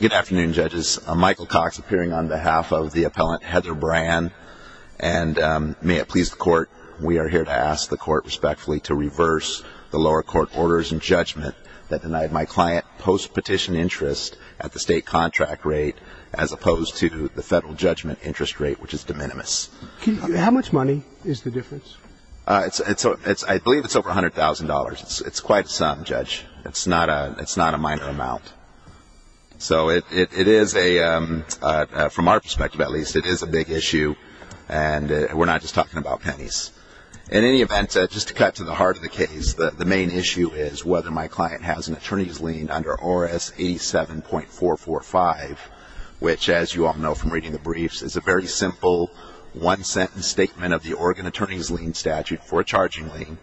Good afternoon, judges. I'm Michael Cox, appearing on behalf of the appellant Heather Brann. And may it please the court, we are here to ask the court, respectfully, to reverse the lower court orders and judgment that denied my client post-petition interest at the state contract rate, as opposed to the federal judgment interest rate, which is de minimis. How much money is the difference? I believe it's over $100,000. It's quite some, judge. It's not a minor amount. So it is a, from our perspective at least, it is a big issue. And we're not just talking about pennies. In any event, just to cut to the heart of the case, the main issue is whether my client has an attorney's lien under ORS 87.445, which, as you all know from reading the briefs, is a very simple one-sentence statement of the Oregon attorney's lien statute for a charging lien.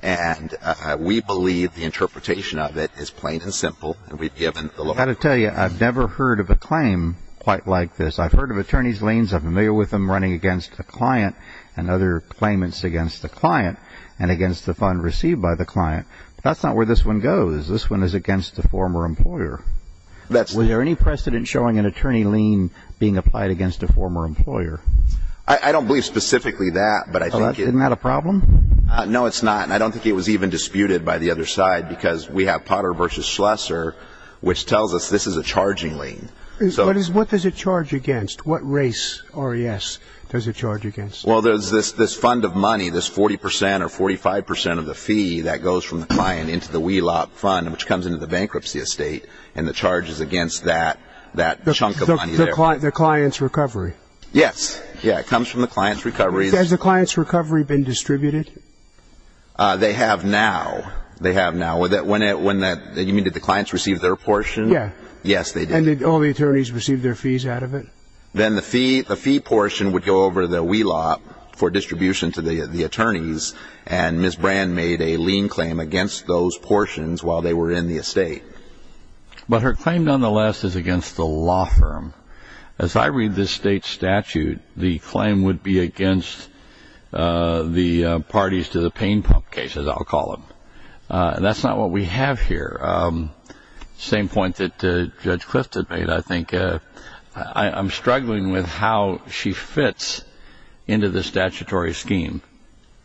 And we believe the interpretation of it is plain and simple, and we've given the lower court orders. I've got to tell you, I've never heard of a claim quite like this. I've heard of attorney's liens. I'm familiar with them running against the client and other claimants against the client and against the fund received by the client. But that's not where this one goes. This one is against the former employer. Was there any precedent showing an attorney lien being applied against a former employer? I don't believe specifically that. Isn't that a problem? No, it's not. And I don't think it was even disputed by the other side, because we have Potter v. Schlesser, which tells us this is a charging lien. What does it charge against? What race, ORS, does it charge against? Well, there's this fund of money, this 40 percent or 45 percent of the fee that goes from the client into the WELOP fund, which comes into the bankruptcy estate, and the charge is against that chunk of money there. The client's recovery? Yes. Yeah, it comes from the client's recovery. Has the client's recovery been distributed? They have now. They have now. When that – you mean did the clients receive their portion? Yeah. Yes, they did. And did all the attorneys receive their fees out of it? Then the fee portion would go over to the WELOP for distribution to the attorneys, and Ms. Brand made a lien claim against those portions while they were in the estate. But her claim, nonetheless, is against the law firm. As I read this state statute, the claim would be against the parties to the pain pump cases, I'll call them. That's not what we have here. Same point that Judge Clifton made, I think. I'm struggling with how she fits into the statutory scheme.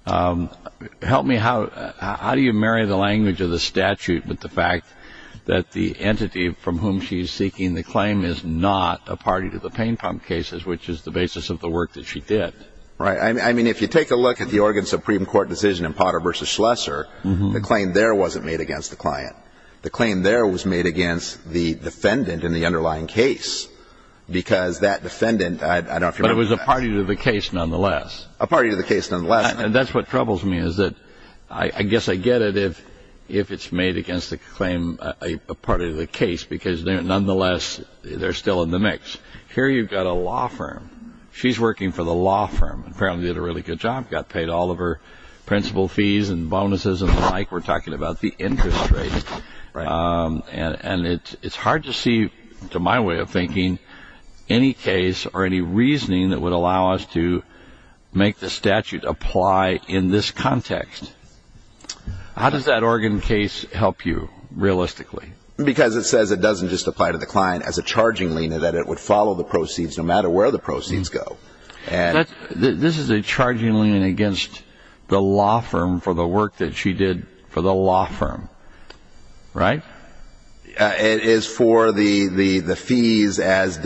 Help me, how do you marry the language of the statute with the fact that the entity from whom she's seeking the claim is not a party to the pain pump cases, which is the basis of the work that she did? Right. I mean, if you take a look at the Oregon Supreme Court decision in Potter v. Schlesser, the claim there wasn't made against the client. The claim there was made against the defendant in the underlying case because that defendant, I don't know if you remember that. But it was a party to the case, nonetheless. A party to the case, nonetheless. And that's what troubles me is that I guess I get it if it's made against the claim, a party to the case, because nonetheless, they're still in the mix. Here you've got a law firm. She's working for the law firm. Apparently did a really good job, got paid all of her principal fees and bonuses and the like. We're talking about the interest rate. And it's hard to see, to my way of thinking, any case or any reasoning that would allow us to make the statute apply in this context. How does that Oregon case help you realistically? Because it says it doesn't just apply to the client as a charging lien, that it would follow the proceeds no matter where the proceeds go. This is a charging lien against the law firm for the work that she did for the law firm, right? It is for the fees as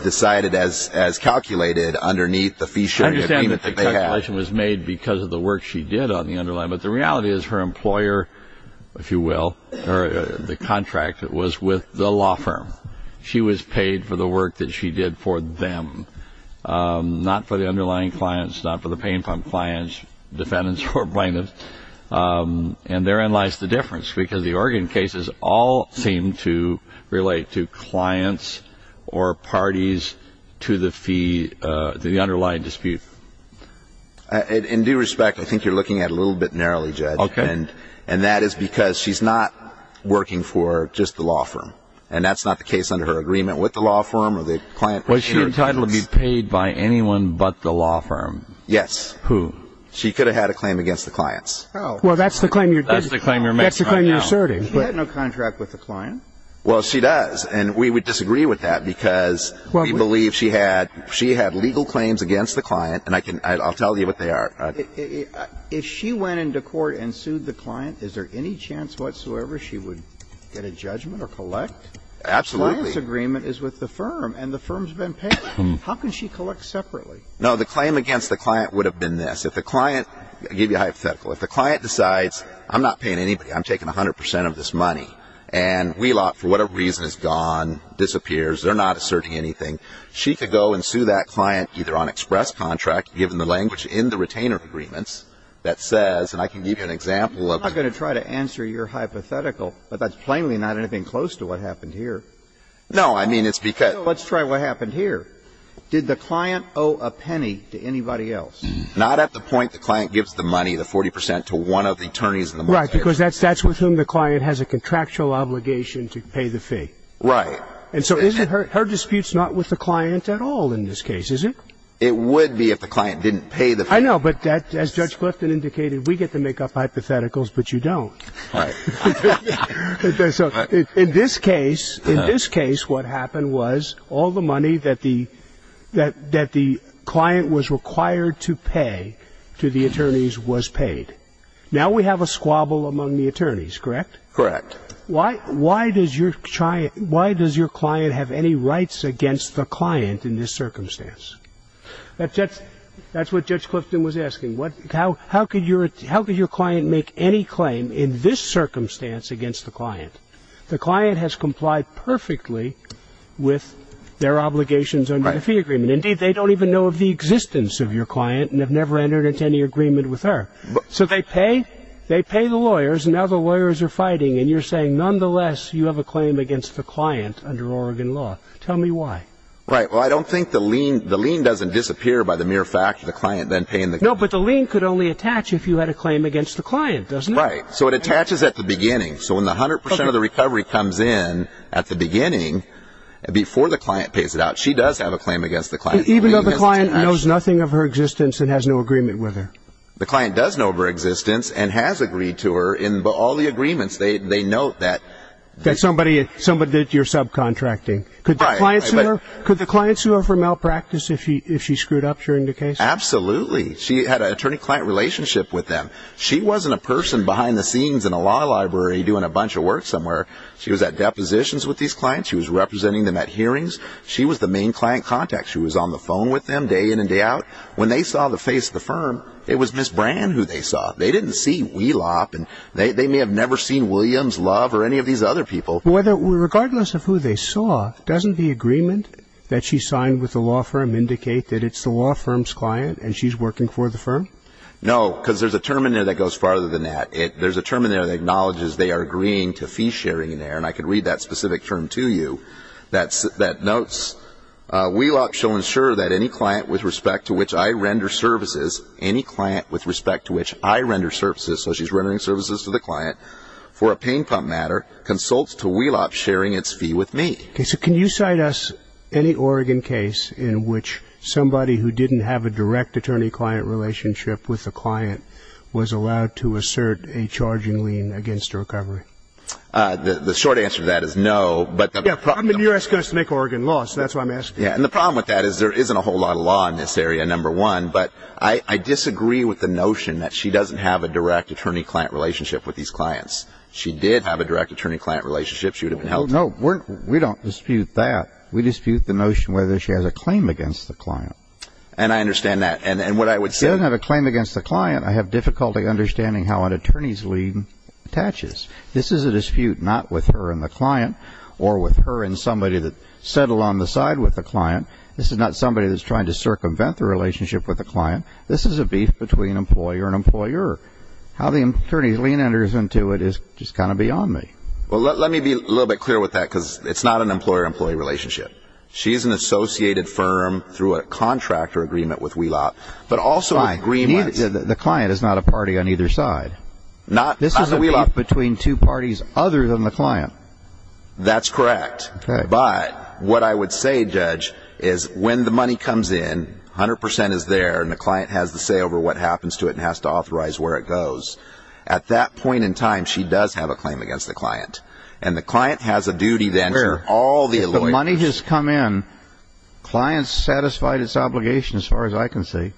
decided, as calculated underneath the fee sharing agreement that they had. I understand that the calculation was made because of the work she did on the underlying. But the reality is her employer, if you will, or the contract was with the law firm. She was paid for the work that she did for them. Not for the underlying clients, not for the paying from clients, defendants or plaintiffs. And therein lies the difference, because the Oregon cases all seem to relate to clients or parties to the fee, the underlying dispute. In due respect, I think you're looking at it a little bit narrowly, Judge. And that is because she's not working for just the law firm. And that's not the case under her agreement with the law firm or the client. Was she entitled to be paid by anyone but the law firm? Yes. Who? She could have had a claim against the clients. Well, that's the claim you're making right now. That's the claim you're asserting. She had no contract with the client. Well, she does. And we would disagree with that because we believe she had legal claims against the client. And I can – I'll tell you what they are. If she went into court and sued the client, is there any chance whatsoever she would get a judgment or collect? Absolutely. The client's agreement is with the firm, and the firm's been paid. How can she collect separately? No, the claim against the client would have been this. If the client – I'll give you a hypothetical. If the client decides, I'm not paying anybody. I'm taking 100 percent of this money. And Wheelock, for whatever reason, is gone, disappears. They're not asserting anything. She could go and sue that client either on express contract, given the language in the retainer agreements, that says – and I can give you an example of – I'm not going to try to answer your hypothetical, but that's plainly not anything close to what happened here. No, I mean it's because – Let's try what happened here. Did the client owe a penny to anybody else? Not at the point the client gives the money, the 40 percent, to one of the attorneys in the market. Right, because that's with whom the client has a contractual obligation to pay the fee. Right. And so her dispute's not with the client at all in this case, is it? It would be if the client didn't pay the fee. I know, but as Judge Clifton indicated, we get to make up hypotheticals, but you don't. Right. So in this case, in this case, what happened was all the money that the client was required to pay to the attorneys was paid. Now we have a squabble among the attorneys, correct? Correct. Why does your client have any rights against the client in this circumstance? That's what Judge Clifton was asking. How could your client make any claim in this circumstance against the client? The client has complied perfectly with their obligations under the fee agreement. Indeed, they don't even know of the existence of your client and have never entered into any agreement with her. So they pay? They pay the lawyers, and now the lawyers are fighting, and you're saying, nonetheless, you have a claim against the client under Oregon law. Tell me why. Right. Well, I don't think the lien doesn't disappear by the mere fact of the client then paying the fee. No, but the lien could only attach if you had a claim against the client, doesn't it? Right. So it attaches at the beginning. So when the 100% of the recovery comes in at the beginning, before the client pays it out, she does have a claim against the client. Even though the client knows nothing of her existence and has no agreement with her? The client does know of her existence and has agreed to her in all the agreements. They note that. That somebody did your subcontracting. Could the client sue her for malpractice if she screwed up during the case? Absolutely. She had an attorney-client relationship with them. She wasn't a person behind the scenes in a law library doing a bunch of work somewhere. She was at depositions with these clients. She was representing them at hearings. She was the main client contact. She was on the phone with them day in and day out. When they saw the face of the firm, it was Ms. Brand who they saw. They didn't see Wheelop. They may have never seen Williams, Love, or any of these other people. Regardless of who they saw, doesn't the agreement that she signed with the law firm indicate that it's the law firm's client and she's working for the firm? No, because there's a term in there that goes farther than that. There's a term in there that acknowledges they are agreeing to fee sharing in there, and I could read that specific term to you that notes, Wheelop shall ensure that any client with respect to which I render services, any client with respect to which I render services, so she's rendering services to the client for a pain pump matter, consults to Wheelop sharing its fee with me. Okay, so can you cite us any Oregon case in which somebody who didn't have a direct attorney-client relationship with the client was allowed to assert a charging lien against her recovery? The short answer to that is no. You're asking us to make Oregon law, so that's why I'm asking. Yeah, and the problem with that is there isn't a whole lot of law in this area, number one, but I disagree with the notion that she doesn't have a direct attorney-client relationship with these clients. She did have a direct attorney-client relationship. She would have been held to account. No, we don't dispute that. We dispute the notion whether she has a claim against the client. And I understand that. And what I would say – She doesn't have a claim against the client. I have difficulty understanding how an attorney's lien attaches. This is a dispute not with her and the client or with her and somebody that settled on the side with the client. This is not somebody that's trying to circumvent the relationship with the client. This is a beef between employer and employer. How the attorney's lien enters into it is just kind of beyond me. Well, let me be a little bit clear with that because it's not an employer-employee relationship. She is an associated firm through a contractor agreement with Wheelop, but also agreements – Fine. The client is not a party on either side. This is a beef between two parties other than the client. That's correct. But what I would say, Judge, is when the money comes in, 100% is there, and the client has the say over what happens to it and has to authorize where it goes, at that point in time, she does have a claim against the client. And the client has a duty to ensure all the alloyages. If the money does come in, client satisfied its obligation as far as I can see.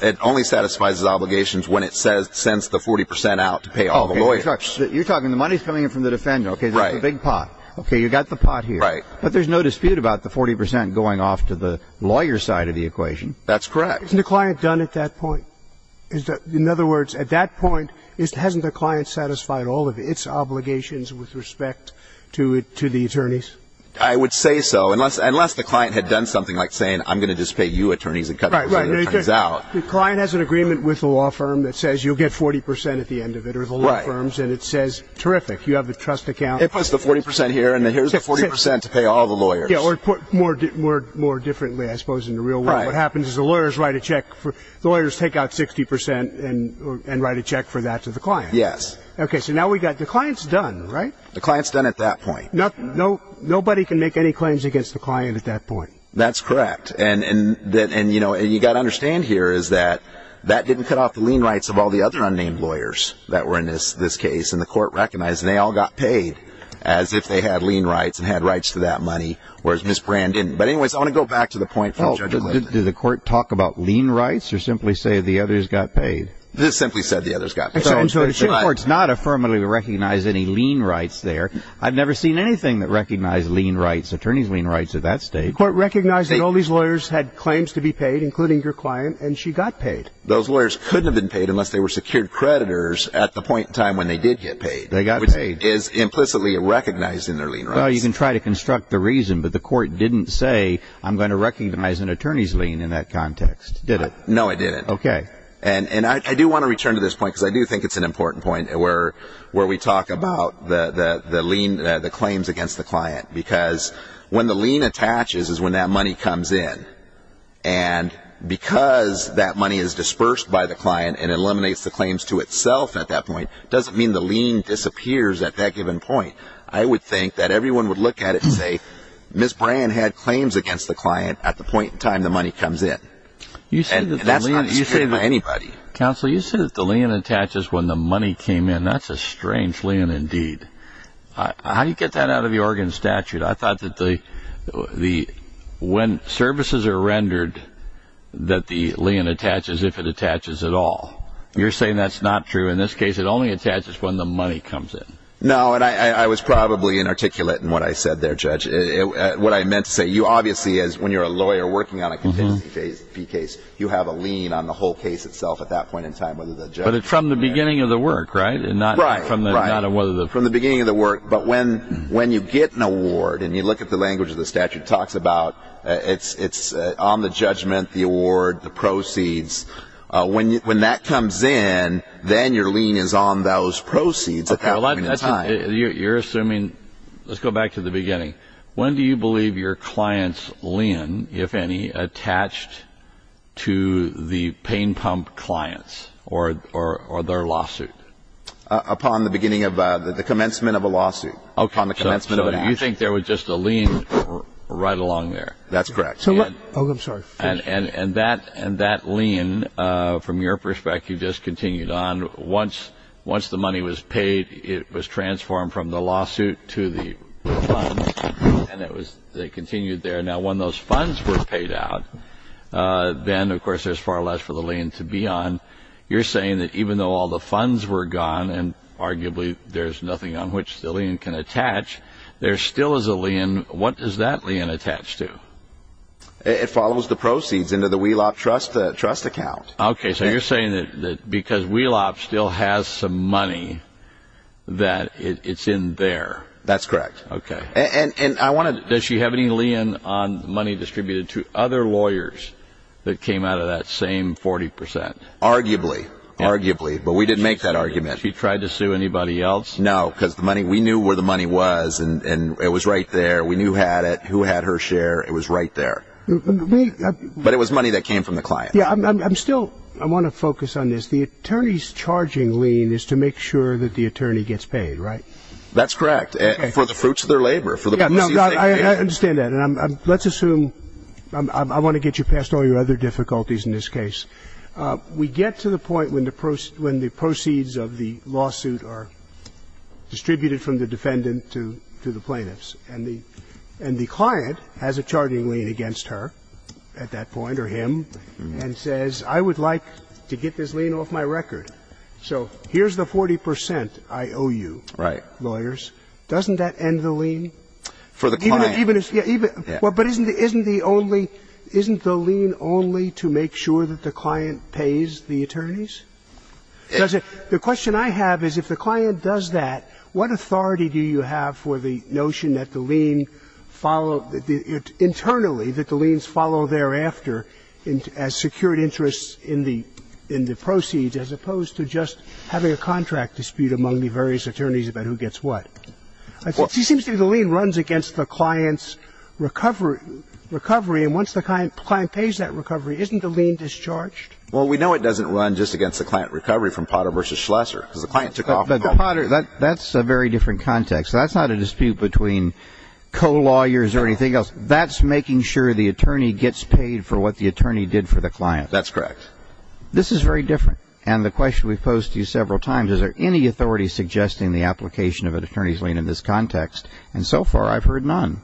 It only satisfies its obligations when it sends the 40% out to pay all the lawyers. You're talking the money's coming in from the defender. Okay, that's a big pot. Okay, you've got the pot here. Right. But there's no dispute about the 40% going off to the lawyer's side of the equation. That's correct. Isn't the client done at that point? In other words, at that point, hasn't the client satisfied all of its obligations with respect to the attorneys? I would say so, unless the client had done something like saying, The client has an agreement with the law firm that says you'll get 40% at the end of it, or the law firms, and it says, terrific, you have the trust account. It puts the 40% here, and here's the 40% to pay all the lawyers. Or put it more differently, I suppose, in the real world. What happens is the lawyers take out 60% and write a check for that to the client. Yes. Okay, so now we've got the client's done, right? The client's done at that point. Nobody can make any claims against the client at that point. That's correct. And you've got to understand here is that that didn't cut off the lien rights of all the other unnamed lawyers that were in this case. And the court recognized, and they all got paid as if they had lien rights and had rights to that money, whereas Ms. Brand didn't. But anyways, I want to go back to the point from the judge a little bit. Did the court talk about lien rights or simply say the others got paid? They simply said the others got paid. So the Supreme Court's not affirmatively recognized any lien rights there. I've never seen anything that recognized attorneys' lien rights at that stage. The Supreme Court recognized that all these lawyers had claims to be paid, including your client, and she got paid. Those lawyers couldn't have been paid unless they were secured creditors at the point in time when they did get paid. They got paid. Which is implicitly recognized in their lien rights. Well, you can try to construct the reason, but the court didn't say, I'm going to recognize an attorney's lien in that context, did it? No, it didn't. Okay. And I do want to return to this point because I do think it's an important point where we talk about the claims against the client. Because when the lien attaches is when that money comes in. And because that money is dispersed by the client and eliminates the claims to itself at that point, it doesn't mean the lien disappears at that given point. I would think that everyone would look at it and say, Ms. Brand had claims against the client at the point in time the money comes in. And that's not secured by anybody. Counsel, you said that the lien attaches when the money came in. That's a strange lien indeed. How do you get that out of the Oregon statute? I thought that when services are rendered, that the lien attaches if it attaches at all. You're saying that's not true. In this case, it only attaches when the money comes in. No, and I was probably inarticulate in what I said there, Judge. What I meant to say, you obviously, when you're a lawyer working on a contingency case, you have a lien on the whole case itself at that point in time. But from the beginning of the work, right? Right. From the beginning of the work, but when you get an award and you look at the language of the statute, it talks about it's on the judgment, the award, the proceeds. When that comes in, then your lien is on those proceeds at that point in time. You're assuming, let's go back to the beginning. When do you believe your client's lien, if any, attached to the pain pump clients or their lawsuit? Upon the beginning of the commencement of a lawsuit. Upon the commencement of an act. Okay. So you think there was just a lien right along there. That's correct. Oh, I'm sorry. And that lien, from your perspective, just continued on. Once the money was paid, it was transformed from the lawsuit to the funds, and it continued there. Now, when those funds were paid out, then, of course, there's far less for the lien to be on. You're saying that even though all the funds were gone, and arguably there's nothing on which the lien can attach, there still is a lien. What does that lien attach to? It follows the proceeds into the Wheelop Trust account. Okay. So you're saying that because Wheelop still has some money, that it's in there. That's correct. Okay. Does she have any lien on money distributed to other lawyers that came out of that same 40%? Arguably. Arguably. But we didn't make that argument. She tried to sue anybody else? No, because we knew where the money was, and it was right there. We knew who had it, who had her share. It was right there. But it was money that came from the client. I want to focus on this. The attorney's charging lien is to make sure that the attorney gets paid, right? That's correct. For the fruits of their labor. I understand that. And let's assume, I want to get you past all your other difficulties in this case. We get to the point when the proceeds of the lawsuit are distributed from the defendant to the plaintiffs. And the client has a charging lien against her at that point, or him, and says, I would like to get this lien off my record. So here's the 40% I owe you. Right. So if the client pays the attorneys, and the client pays the contract lawyers, doesn't that end the lien? For the client. Yeah. But isn't the only, isn't the lien only to make sure that the client pays the attorneys? The question I have is if the client does that, what authority do you have for the notion that the lien follow, internally, that the liens follow thereafter as secured interests in the proceeds as opposed to just having a contract dispute among the various attorneys about who gets what? It seems to me the lien runs against the client's recovery. And once the client pays that recovery, isn't the lien discharged? Well, we know it doesn't run just against the client recovery from Potter v. Schlesser because the client took off the pot. But, Potter, that's a very different context. That's not a dispute between co-lawyers or anything else. That's making sure the attorney gets paid for what the attorney did for the client. That's correct. This is very different. And the question we've posed to you several times, is there any authority suggesting the application of an attorney's lien in this context? And so far, I've heard none.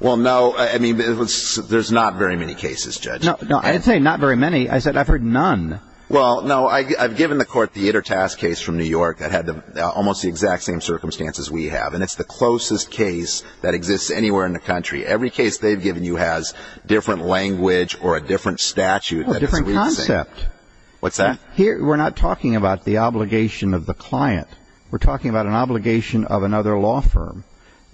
Well, no. I mean, there's not very many cases, Judge. No, I didn't say not very many. I said I've heard none. Well, no. I've given the court the iter task case from New York that had almost the exact same circumstances we have. And it's the closest case that exists anywhere in the country. Every case they've given you has different language or a different statute. Well, different concept. What's that? Here, we're not talking about the obligation of the client. We're talking about an obligation of another law firm.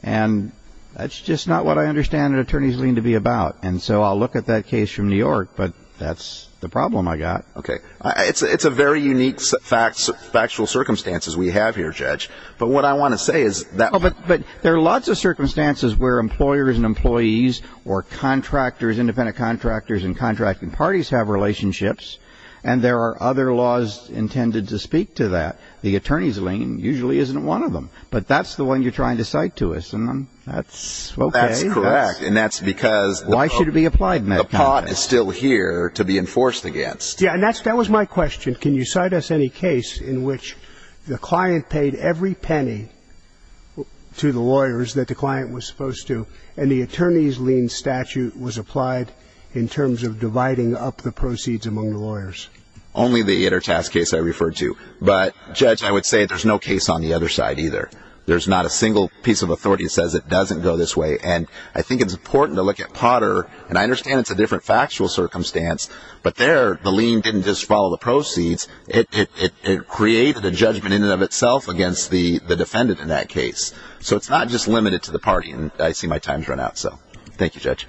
And that's just not what I understand an attorney's lien to be about. And so I'll look at that case from New York, but that's the problem I got. Okay. It's a very unique factual circumstance as we have here, Judge. But what I want to say is that one. But there are lots of circumstances where employers and employees or contractors, independent contractors and contracting parties, have relationships. And there are other laws intended to speak to that. The attorney's lien usually isn't one of them. But that's the one you're trying to cite to us. And that's okay. That's correct. And that's because the pot is still here to be enforced against. Yeah. And that was my question. Can you cite us any case in which the client paid every penny to the lawyers that the client was supposed to, and the attorney's lien statute was applied in terms of dividing up the proceeds among the lawyers? Only the intertask case I referred to. But, Judge, I would say there's no case on the other side either. There's not a single piece of authority that says it doesn't go this way. And I think it's important to look at Potter, and I understand it's a different factual circumstance, but there the lien didn't just follow the proceeds. It created a judgment in and of itself against the defendant in that case. So it's not just limited to the party. And I see my time's run out. So thank you, Judge.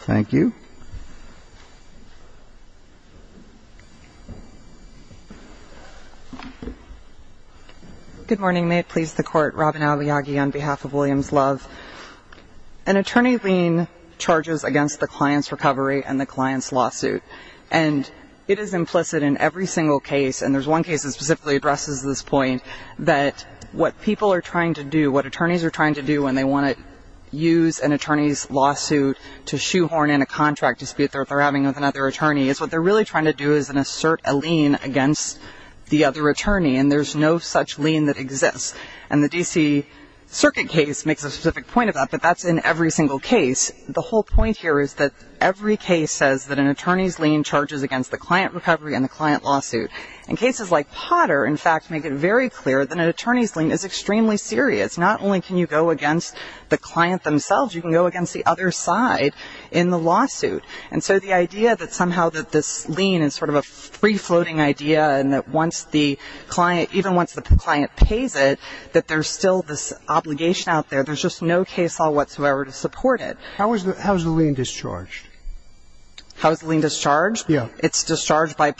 Thank you. Good morning. May it please the Court. Robin Aoyagi on behalf of Williams Love. An attorney lien charges against the client's recovery and the client's lawsuit. And it is implicit in every single case, and there's one case that specifically addresses this point, that what people are trying to do, what attorneys are trying to do when they want to use an attorney's lawsuit to shoehorn in a contract dispute that they're having with another attorney, is what they're really trying to do is assert a lien against the other attorney. And there's no such lien that exists. And the D.C. Circuit case makes a specific point about that, but that's in every single case. The whole point here is that every case says that an attorney's lien charges against the client recovery and the client lawsuit. And cases like Potter, in fact, make it very clear that an attorney's lien is extremely serious. Not only can you go against the client themselves, you can go against the other side in the lawsuit. And so the idea that somehow that this lien is sort of a free-floating idea and that once the client, even once the client pays it, that there's still this obligation out there. There's just no case law whatsoever to support it. How is the lien discharged? How is the lien discharged? Yeah. It's discharged by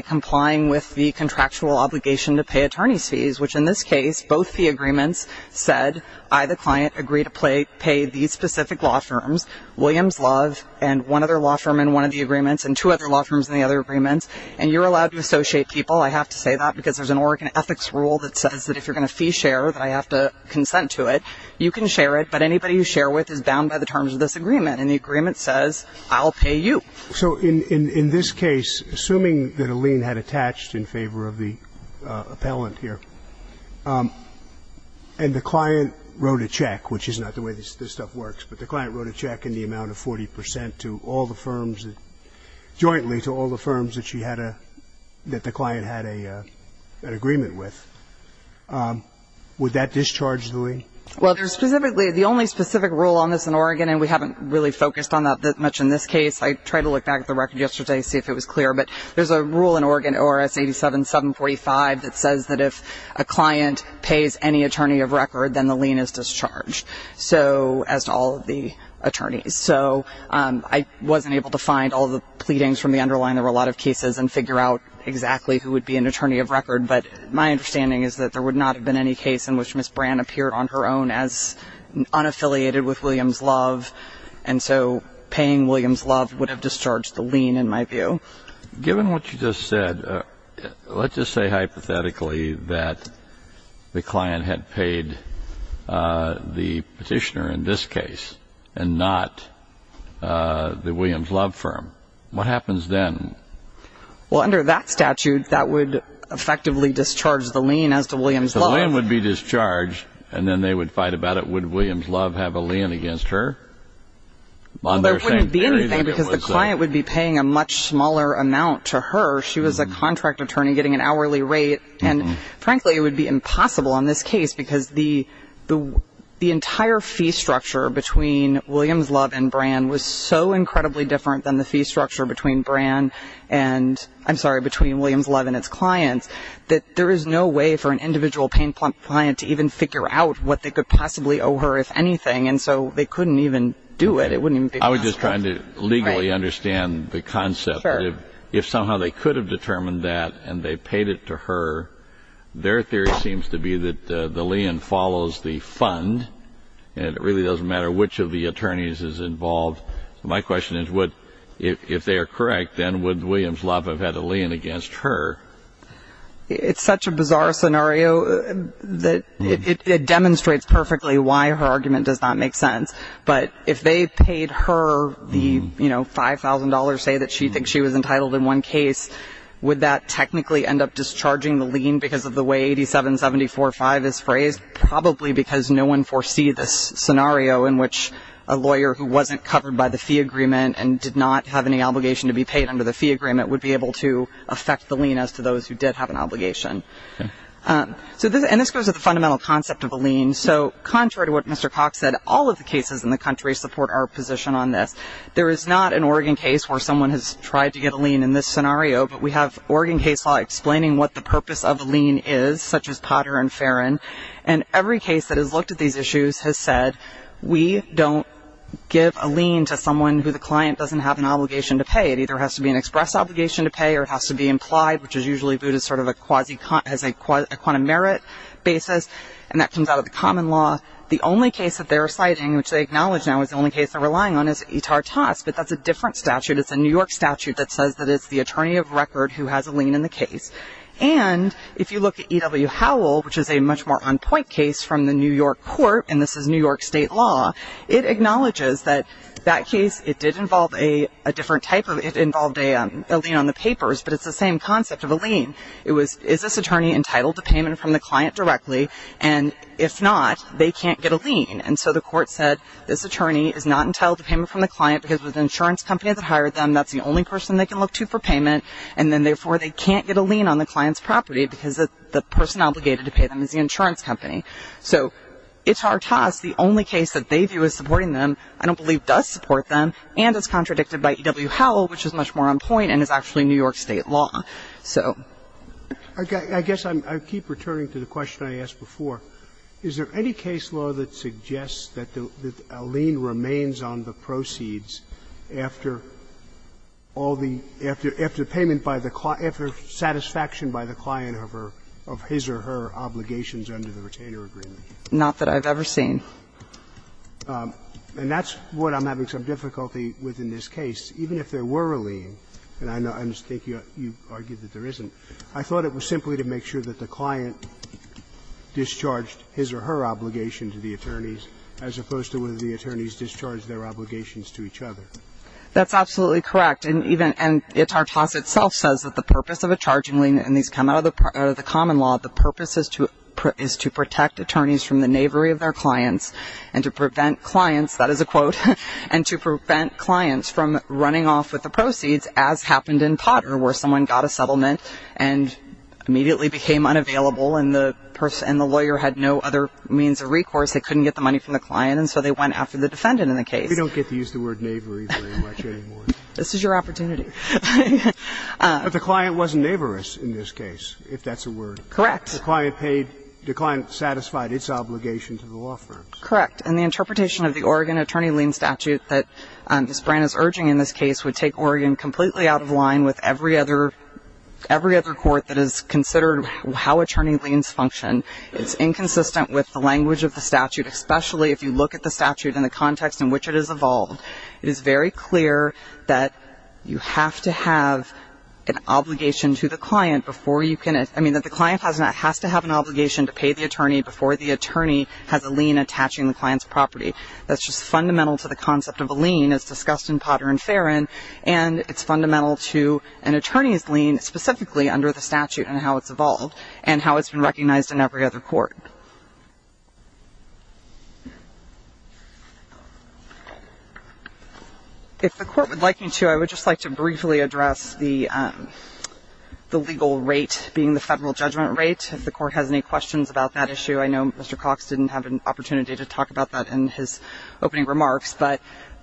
complying with the contractual obligation to pay attorney's fees, which in this case, both the agreements said, I, the client, agree to pay these specific law firms, Williams, Love, and one other law firm in one of the agreements and two other law firms in the other agreements, and you're allowed to associate people, I have to say that, because there's an Oregon ethics rule that says that if you're going to fee share, that I have to consent to it. You can share it, but anybody you share with is bound by the terms of this agreement, and the agreement says, I'll pay you. So in this case, assuming that a lien had attached in favor of the appellant here, and the client wrote a check, which is not the way this stuff works, but the client wrote a check in the amount of 40 percent to all the firms, jointly to all the firms that she had a, that the client had an agreement with, would that discharge the lien? Well, there's specifically, the only specific rule on this in Oregon, and we haven't really focused on that much in this case. I tried to look back at the record yesterday to see if it was clear, but there's a rule in Oregon, ORS 87-745, that says that if a client pays any attorney of record, then the lien is discharged, as to all of the attorneys. So I wasn't able to find all the pleadings from the underline. There were a lot of cases, and figure out exactly who would be an attorney of record, but my understanding is that there would not have been any case in which Ms. Brand appeared on her own as unaffiliated with Williams Love, and so paying Williams Love would have discharged the lien, in my view. Given what you just said, let's just say hypothetically that the client had paid the petitioner in this case, and not the Williams Love firm. What happens then? Well, under that statute, that would effectively discharge the lien as to Williams Love. The lien would be discharged, and then they would fight about it. Would Williams Love have a lien against her? Well, there wouldn't be anything, because the client would be paying a much smaller amount to her. She was a contract attorney getting an hourly rate, and frankly, it would be impossible on this case, because the entire fee structure between Williams Love and Brand was so incredibly different than the fee structure between Williams Love and its clients, that there is no way for an individual pain-plump client to even figure out what they could possibly owe her, if anything, and so they couldn't even do it. I was just trying to legally understand the concept. If somehow they could have determined that, and they paid it to her, their theory seems to be that the lien follows the fund, and it really doesn't matter which of the attorneys is involved. My question is, if they are correct, then would Williams Love have had a lien against her? It's such a bizarre scenario that it demonstrates perfectly why her argument does not make sense. But if they paid her the $5,000 say that she thinks she was entitled in one case, would that technically end up discharging the lien because of the way 87-74-5 is phrased? Probably because no one foresees this scenario in which a lawyer who wasn't covered by the fee agreement and did not have any obligation to be paid under the fee agreement would be able to affect the lien as to those who did have an obligation. And this goes with the fundamental concept of a lien. So contrary to what Mr. Cox said, all of the cases in the country support our position on this. There is not an Oregon case where someone has tried to get a lien in this scenario, but we have Oregon case law explaining what the purpose of a lien is, such as Potter and Farron. And every case that has looked at these issues has said, we don't give a lien to someone who the client doesn't have an obligation to pay. It either has to be an express obligation to pay or it has to be implied, which is usually viewed as sort of a quantum merit basis, and that comes out of the common law. And the only case that they're citing, which they acknowledge now is the only case they're relying on, is Itar-Tas, but that's a different statute. It's a New York statute that says that it's the attorney of record who has a lien in the case. And if you look at E.W. Howell, which is a much more on-point case from the New York court, and this is New York state law, it acknowledges that that case, it did involve a different type of, it involved a lien on the papers, but it's the same concept of a lien. It was, is this attorney entitled to payment from the client directly? And if not, they can't get a lien. And so the court said, this attorney is not entitled to payment from the client because with the insurance company that hired them, that's the only person they can look to for payment, and then therefore they can't get a lien on the client's property because the person obligated to pay them is the insurance company. So Itar-Tas, the only case that they view as supporting them, I don't believe does support them, and is contradicted by E.W. Howell, which is much more on point and is actually New York state law. So. Roberts, I guess I keep returning to the question I asked before. Is there any case law that suggests that a lien remains on the proceeds after all the, after payment by the client, after satisfaction by the client of her, of his or her obligations under the retainer agreement? Howell, not that I've ever seen. Roberts, and that's what I'm having some difficulty with in this case. Even if there were a lien, and I think you argued that there isn't, I thought it was simply to make sure that the client discharged his or her obligation to the attorneys as opposed to whether the attorneys discharged their obligations to each other. That's absolutely correct. And Itar-Tas itself says that the purpose of a charging lien, and these come out of the common law, the purpose is to protect attorneys from the knavery of their clients and to prevent clients, that is a quote, and to prevent clients from running off with the proceeds, as happened in Potter, where someone got a settlement and immediately became unavailable and the lawyer had no other means of recourse. They couldn't get the money from the client, and so they went after the defendant in the case. We don't get to use the word knavery very much anymore. This is your opportunity. But the client wasn't knaverous in this case, if that's a word. Correct. The client paid, the client satisfied its obligation to the law firms. Correct. And the interpretation of the Oregon Attorney Lien Statute that Ms. Brand is urging in this case would take Oregon completely out of line with every other court that has considered how attorney liens function. It's inconsistent with the language of the statute, especially if you look at the statute and the context in which it has evolved. It is very clear that you have to have an obligation to the client before you can, before the attorney has a lien attaching the client's property. That's just fundamental to the concept of a lien, as discussed in Potter and Ferrin, and it's fundamental to an attorney's lien, specifically under the statute and how it's evolved and how it's been recognized in every other court. If the court would like me to, I would just like to briefly address the legal rate being the federal judgment rate. If the court has any questions about that issue, I know Mr. Cox didn't have an opportunity to talk about that in his opening remarks, but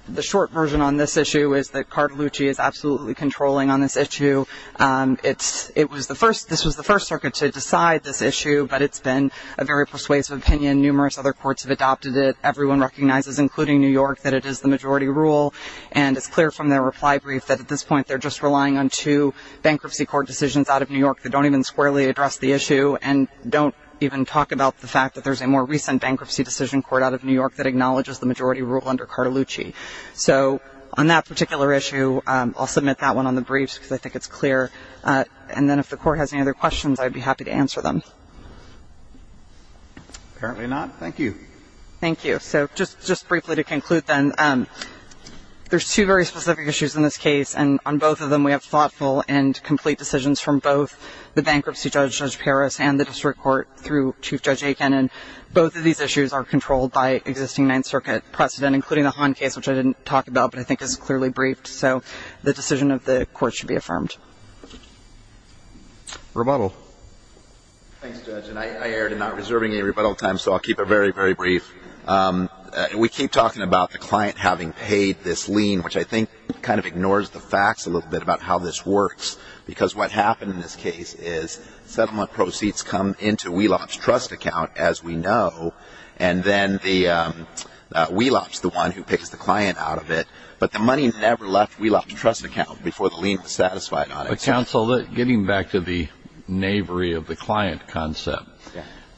the short version on this issue is that Cartolucci is absolutely controlling on this issue. It was the first, this was the first circuit to decide this issue, but it's been a very persuasive opinion. Numerous other courts have adopted it. Everyone recognizes, including New York, that it is the majority rule, and it's clear from their reply brief that at this point they're just relying on two bankruptcy court decisions out of New York that don't even squarely address the issue and don't even talk about the fact that there's a more recent bankruptcy decision court out of New York that acknowledges the majority rule under Cartolucci. So on that particular issue, I'll submit that one on the briefs because I think it's clear, and then if the court has any other questions, I'd be happy to answer them. Apparently not. Thank you. Thank you. So just briefly to conclude then, there's two very specific issues in this case, and on both of them we have thoughtful and complete decisions from both the bankruptcy judge, Judge Paris, and the district court through Chief Judge Aiken, and both of these issues are controlled by existing Ninth Circuit precedent, including the Hahn case, which I didn't talk about but I think is clearly briefed. So the decision of the court should be affirmed. Rebuttal. Thanks, Judge, and I erred in not reserving any rebuttal time, so I'll keep it very, very brief. We keep talking about the client having paid this lien, which I think kind of ignores the facts a little bit about how this works because what happened in this case is settlement proceeds come into Wheelop's trust account, as we know, and then Wheelop's the one who picks the client out of it, but the money never left Wheelop's trust account before the lien was satisfied on it. But counsel, getting back to the knavery of the client concept,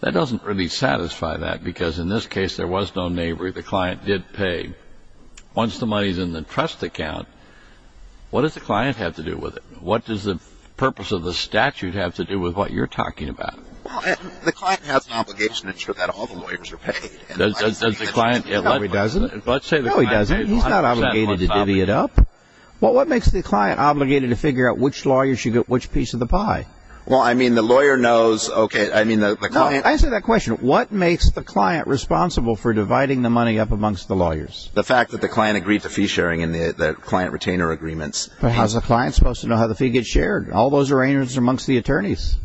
that doesn't really satisfy that because in this case there was no knavery. The client did pay. Once the money is in the trust account, what does the client have to do with it? What does the purpose of the statute have to do with what you're talking about? Well, the client has an obligation to ensure that all the lawyers are paid. Does the client? No, he doesn't. No, he doesn't. He's not obligated to divvy it up. Well, what makes the client obligated to figure out which lawyer should get which piece of the pie? Well, I mean, the lawyer knows, okay, I mean, the client Answer that question. What makes the client responsible for dividing the money up amongst the lawyers? The fact that the client agreed to fee sharing in the client retainer agreements. But how's the client supposed to know how the fee gets shared? All those arrangements are amongst the attorneys.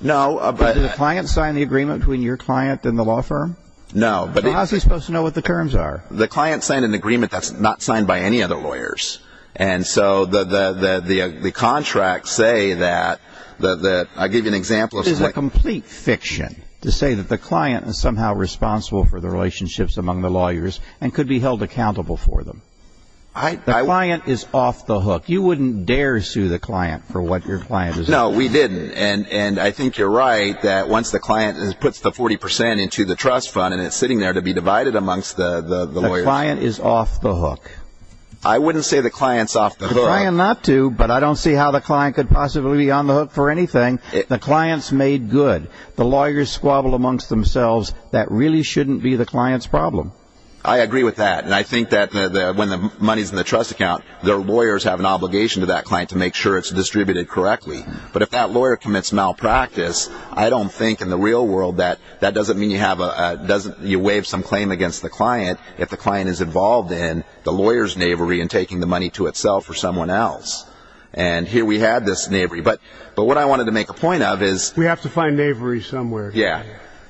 No, but Did the client sign the agreement between your client and the law firm? No, but How's he supposed to know what the terms are? The client signed an agreement that's not signed by any other lawyers, and so the contracts say that, I'll give you an example of This is a complete fiction to say that the client is somehow responsible for the relationships among the lawyers and could be held accountable for them. The client is off the hook. You wouldn't dare sue the client for what your client is doing. No, we didn't. And I think you're right that once the client puts the 40% into the trust fund and it's sitting there to be divided amongst the lawyers The client is off the hook. I wouldn't say the client's off the hook. I'm trying not to, but I don't see how the client could possibly be on the hook for anything. The client's made good. The lawyers squabble amongst themselves. That really shouldn't be the client's problem. I agree with that. And I think that when the money's in the trust account, the lawyers have an obligation to that client to make sure it's distributed correctly. But if that lawyer commits malpractice, I don't think in the real world that that doesn't mean you wave some claim against the client if the client is involved in the lawyer's knavery in taking the money to itself or someone else. And here we have this knavery. But what I wanted to make a point of is We have to find knavery somewhere. Yeah.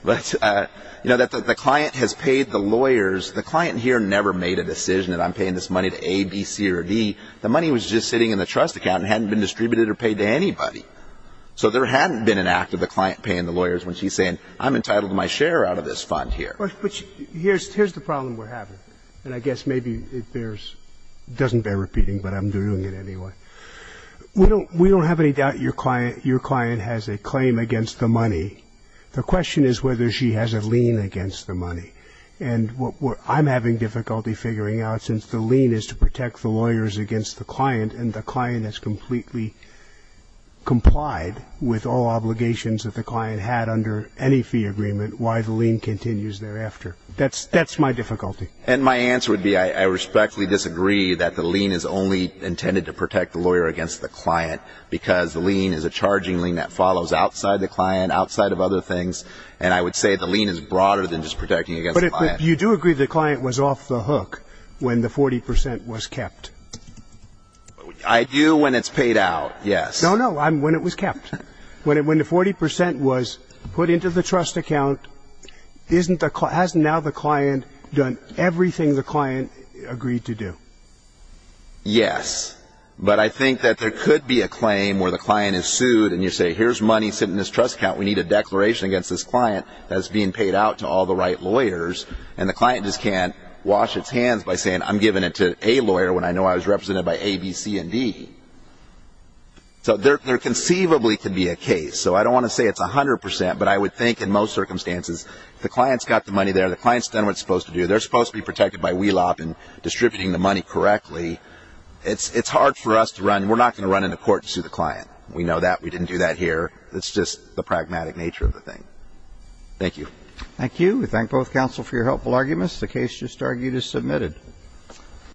The client has paid the lawyers. The client here never made a decision that I'm paying this money to A, B, C, or D. The money was just sitting in the trust account and hadn't been distributed or paid to anybody. So there hadn't been an act of the client paying the lawyers when she's saying, I'm entitled to my share out of this fund here. But here's the problem we're having. And I guess maybe it doesn't bear repeating, but I'm doing it anyway. We don't have any doubt your client has a claim against the money. The question is whether she has a lien against the money. And I'm having difficulty figuring out, since the lien is to protect the lawyers against the client, and the client has completely complied with all obligations that the client had under any fee agreement, why the lien continues thereafter. That's my difficulty. And my answer would be I respectfully disagree that the lien is only intended to protect the lawyer against the client because the lien is a charging lien that follows outside the client, outside of other things. And I would say the lien is broader than just protecting against the client. But you do agree the client was off the hook when the 40 percent was kept? I do when it's paid out, yes. No, no, when it was kept. When the 40 percent was put into the trust account, hasn't now the client done everything the client agreed to do? Yes. But I think that there could be a claim where the client is sued and you say, here's money sitting in this trust account, we need a declaration against this client that's being paid out to all the right lawyers, and the client just can't wash its hands by saying I'm giving it to a lawyer when I know I was represented by A, B, C, and D. So there conceivably could be a case. So I don't want to say it's 100 percent, but I would think in most circumstances, the client's got the money there, the client's done what it's supposed to do, they're supposed to be protected by WELOP and distributing the money correctly. It's hard for us to run. We're not going to run into court and sue the client. We know that. We didn't do that here. It's just the pragmatic nature of the thing. Thank you. Thank you. We thank both counsel for your helpful arguments. The case just argued is submitted.